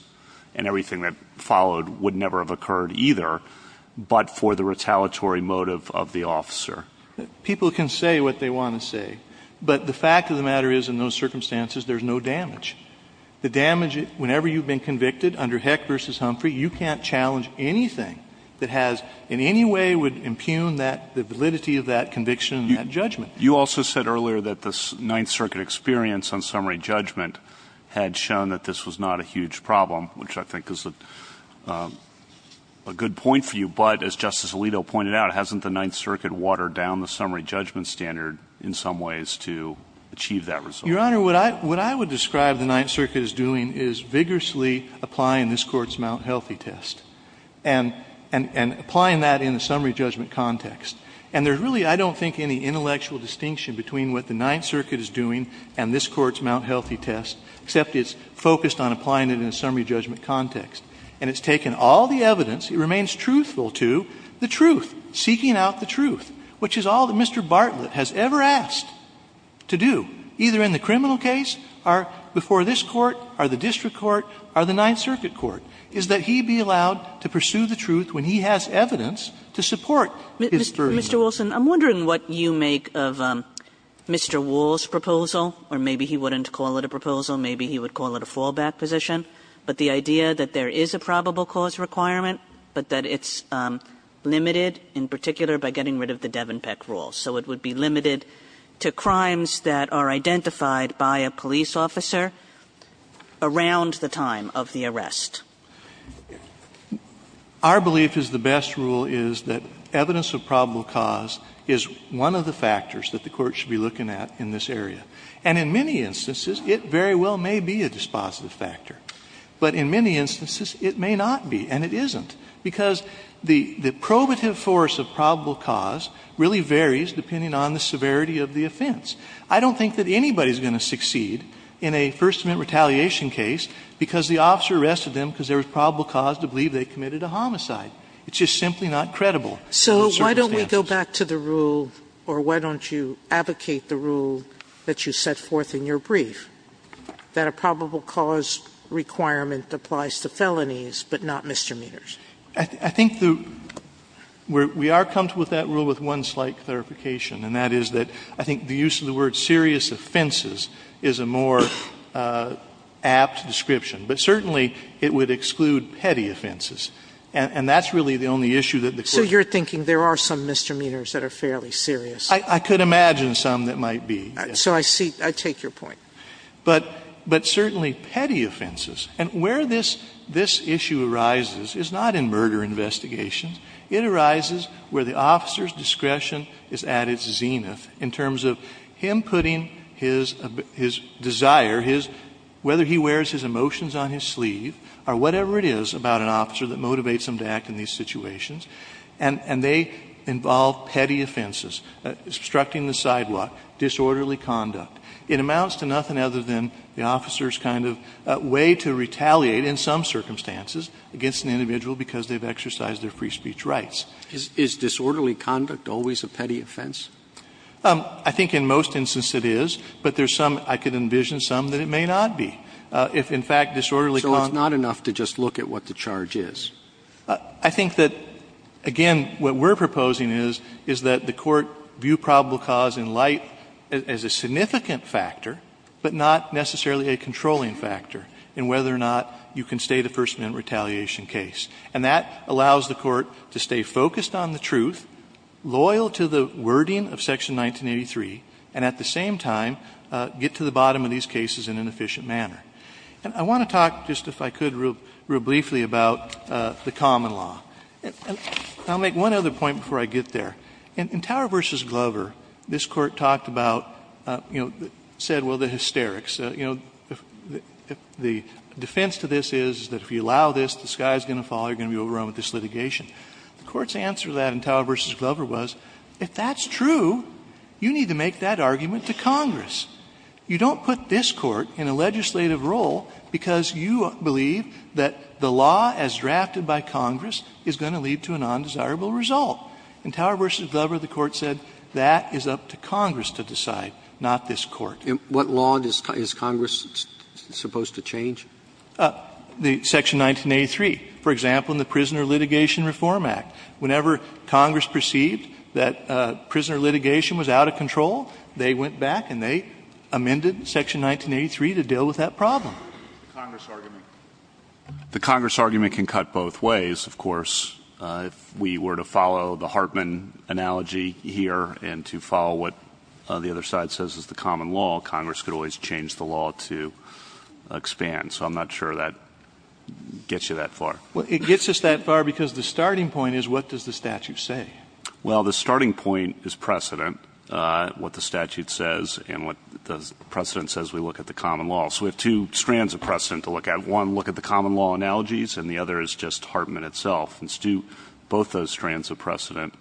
and everything that followed would never have occurred either, but for the retaliatory motive of the officer. People can say what they want to say. But the fact of the matter is, in those circumstances, there's no damage. The damage, whenever you've been convicted under Heck v. Humphrey, you can't challenge anything that has in any way would impugn that – the validity of that conviction and that judgment. You also said earlier that the Ninth Circuit experience on summary judgment had shown that this was not a huge problem, which I think is a good point for you. But as Justice Alito pointed out, hasn't the Ninth Circuit watered down the summary judgment standard in some ways to achieve that result? Your Honor, what I would describe the Ninth Circuit as doing is vigorously applying this Court's Mount Healthy test, and applying that in a summary judgment context. And there's really, I don't think, any intellectual distinction between what the Ninth Circuit is doing and this Court's Mount Healthy test, except it's focused on applying it in a summary judgment context. And it's taken all the evidence. It remains truthful to the truth, seeking out the truth, which is all that Mr. Bartlett has ever asked to do, either in the criminal case, or before this Court, or the district court, or the Ninth Circuit court, is that he be allowed to pursue the truth when he has evidence to support his verdict. Kagan, I'm wondering what you make of Mr. Wall's proposal, or maybe he wouldn't call it a proposal, maybe he would call it a fallback position, but the idea that there is a probable cause requirement, but that it's limited in particular by getting rid of the Devenpeck rules. So it would be limited to crimes that are identified by a police officer around the time of the arrest. Our belief is the best rule is that evidence of probable cause is one of the factors that the Court should be looking at in this area. And in many instances, it very well may be a dispositive factor. But in many instances, it may not be, and it isn't, because the probative force of probable cause really varies depending on the severity of the offense. I don't think that anybody is going to succeed in a First Amendment retaliation case because the officer arrested them because there was probable cause to believe they committed a homicide. It's just simply not credible. Sotomayor, So why don't we go back to the rule, or why don't you advocate the rule that you set forth in your brief, that a probable cause requirement applies to felonies, but not misdemeanors? I think the we are comfortable with that rule with one slight clarification, and that is that I think the use of the word serious offenses is a more apt description. But certainly, it would exclude petty offenses, and that's really the only issue that the Court So you're thinking there are some misdemeanors that are fairly serious. I could imagine some that might be. So I see. I take your point. But certainly, petty offenses, and where this issue arises is not in murder investigations. It arises where the officer's discretion is at its zenith, in terms of him putting his desire, whether he wears his emotions on his sleeve, or whatever it is about an officer that motivates him to act in these situations. And they involve petty offenses, obstructing the sidewalk, disorderly conduct. It amounts to nothing other than the officer's kind of way to retaliate in some circumstances against an individual because they've exercised their free speech rights. Is disorderly conduct always a petty offense? I think in most instances it is, but there's some, I can envision some that it may not be. If, in fact, disorderly conduct So it's not enough to just look at what the charge is? I think that, again, what we're proposing is, is that the Court view probable cause in light as a significant factor, but not necessarily a controlling factor, in whether or not you can stay the first minute retaliation case. And that allows the Court to stay focused on the truth, loyal to the wording of Section 1983, and at the same time, get to the bottom of these cases in an efficient manner. And I want to talk, just if I could, real briefly about the common law. And I'll make one other point before I get there. In Tower v. Glover, this Court talked about, you know, said, well, the hysterics. You know, the defense to this is that if you allow this, the sky is going to fall. You're going to be overrun with this litigation. The Court's answer to that in Tower v. Glover was, if that's true, you need to make that argument to Congress. You don't put this Court in a legislative role because you believe that the law as drafted by Congress is going to lead to a non-desirable result. In Tower v. Glover, the Court said, that is up to Congress to decide, not this Court. Roberts. And what law is Congress supposed to change? The Section 1983, for example, in the Prisoner Litigation Reform Act. Whenever Congress perceived that prisoner litigation was out of control, they went back and they amended Section 1983 to deal with that problem. The Congress argument can cut both ways, of course. If we were to follow the Hartman analogy here and to follow what the other side says is the common law, Congress could always change the law to expand. So I'm not sure that gets you that far. Well, it gets us that far because the starting point is, what does the statute say? Well, the starting point is precedent, what the statute says and what the precedent says we look at the common law. So we have two strands of precedent to look at. One, look at the common law analogies and the other is just Hartman itself. And to do both those strands of precedent,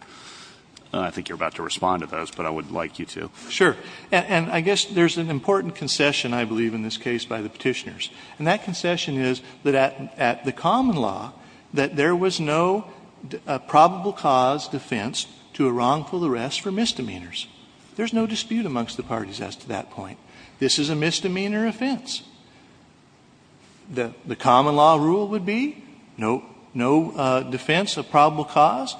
I think you're about to respond to those, but I would like you to. Sure. And I guess there's an important concession, I believe, in this case by the petitioners. And that concession is that at the common law, that there was no probable cause defense to a wrongful arrest for misdemeanors. There's no dispute amongst the parties as to that point. This is a misdemeanor offense. The common law rule would be no defense of probable cause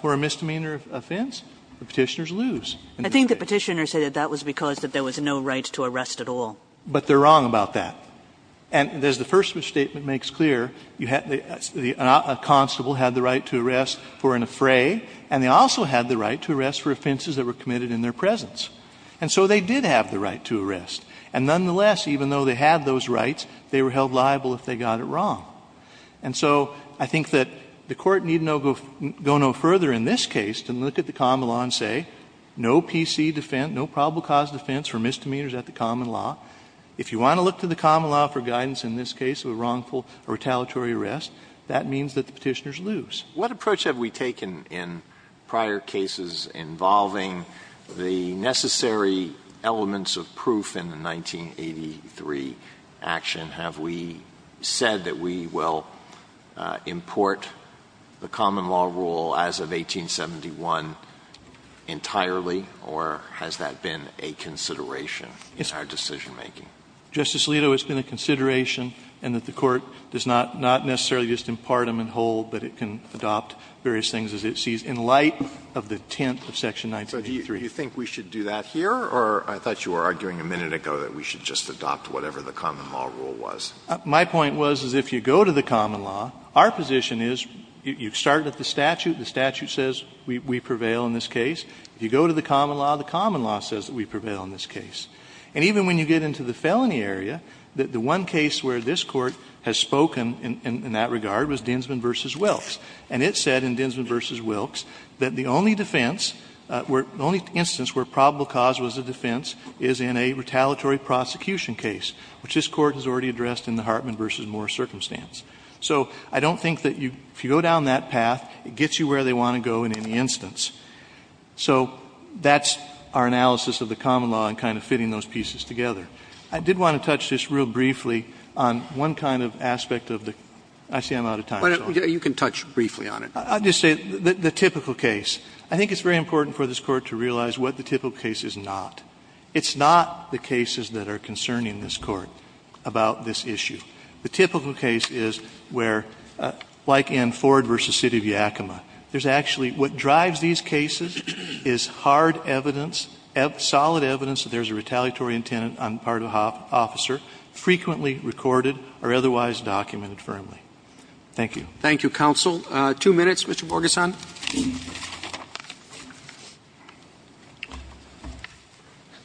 for a misdemeanor offense, the petitioners lose. I think the petitioners say that that was because there was no right to arrest at all. But they're wrong about that. And as the first statement makes clear, a constable had the right to arrest for an affray and they also had the right to arrest for offenses that were committed in their presence. And so they did have the right to arrest. And nonetheless, even though they had those rights, they were held liable if they got it wrong. And so I think that the Court need not go no further in this case to look at the common law and say no PC defense, no probable cause defense for misdemeanors at the common law. If you want to look to the common law for guidance in this case of a wrongful or retaliatory arrest, that means that the petitioners lose. Alito, it's been a consideration and that the Court does not necessarily just impart them in whole, but it can facilitate that consideration. And so I think that the Court should adopt various things as it sees in light of the tent of section 1983. Alito, do you think we should do that here or I thought you were arguing a minute ago that we should just adopt whatever the common law rule was? My point was, is if you go to the common law, our position is you start at the statute, the statute says we prevail in this case. If you go to the common law, the common law says that we prevail in this case. And even when you get into the felony area, the one case where this Court has spoken in that regard was Dinsman v. Wilkes. And it said in Dinsman v. Wilkes that the only defense, the only instance where probable cause was a defense is in a retaliatory prosecution case, which this Court has already addressed in the Hartman v. Moore circumstance. So I don't think that if you go down that path, it gets you where they want to go in any instance. So that's our analysis of the common law and kind of fitting those pieces together. I did want to touch this real briefly on one kind of aspect of the – I see I'm out of time. Roberts, you can touch briefly on it. I'll just say the typical case. I think it's very important for this Court to realize what the typical case is not. It's not the cases that are concerning this Court about this issue. The typical case is where, like in Ford v. City of Yakima, there's actually – what drives these cases is hard evidence, solid evidence that there's a retaliatory intent on the part of the officer, frequently recorded or otherwise documented firmly. Thank you. Roberts. Thank you, counsel. Two minutes, Mr. Borgeson.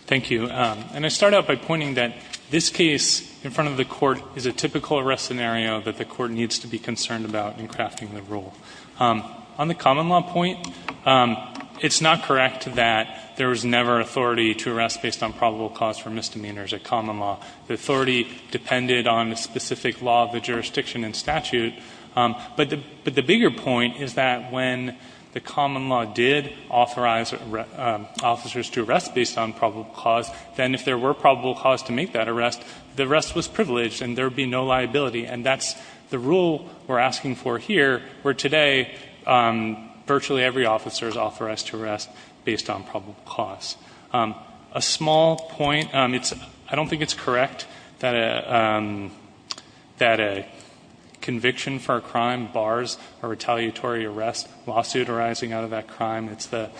Thank you. And I start out by pointing that this case in front of the Court is a typical arrest scenario that the Court needs to be concerned about in crafting the rule. On the common law point, it's not correct that there was never authority to arrest based on probable cause for misdemeanors at common law. The authority depended on a specific law of the jurisdiction and statute. But the bigger point is that when the common law did authorize officers to arrest based on probable cause, then if there were probable cause to make that arrest, the arrest was privileged and there would be no liability. And that's the rule we're asking for here, where today virtually every officer is authorized to arrest based on probable cause. A small point, I don't think it's correct that a conviction for a crime bars a retaliatory arrest lawsuit arising out of that crime. It's the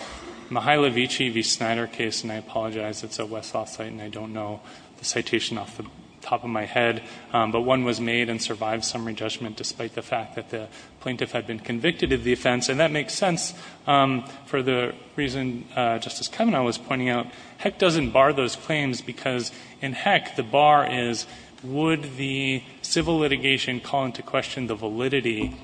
Mihailovici v. Snyder case, and I apologize, it's a Westlaw site and I don't know the citation off the top of my head, but one was made and survived summary judgment despite the fact that the plaintiff had been convicted of the offense. And that makes sense for the reason Justice Kavanaugh was pointing out. Heck doesn't bar those claims because in heck, the bar is would the civil litigation call into question the validity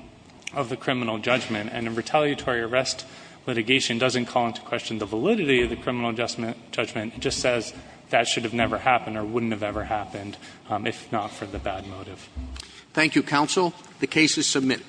of the criminal judgment? And a retaliatory arrest litigation doesn't call into question the validity of the criminal judgment, it just says that should have never happened or wouldn't have ever happened, if not for the bad motive. Thank you, counsel. The case is submitted.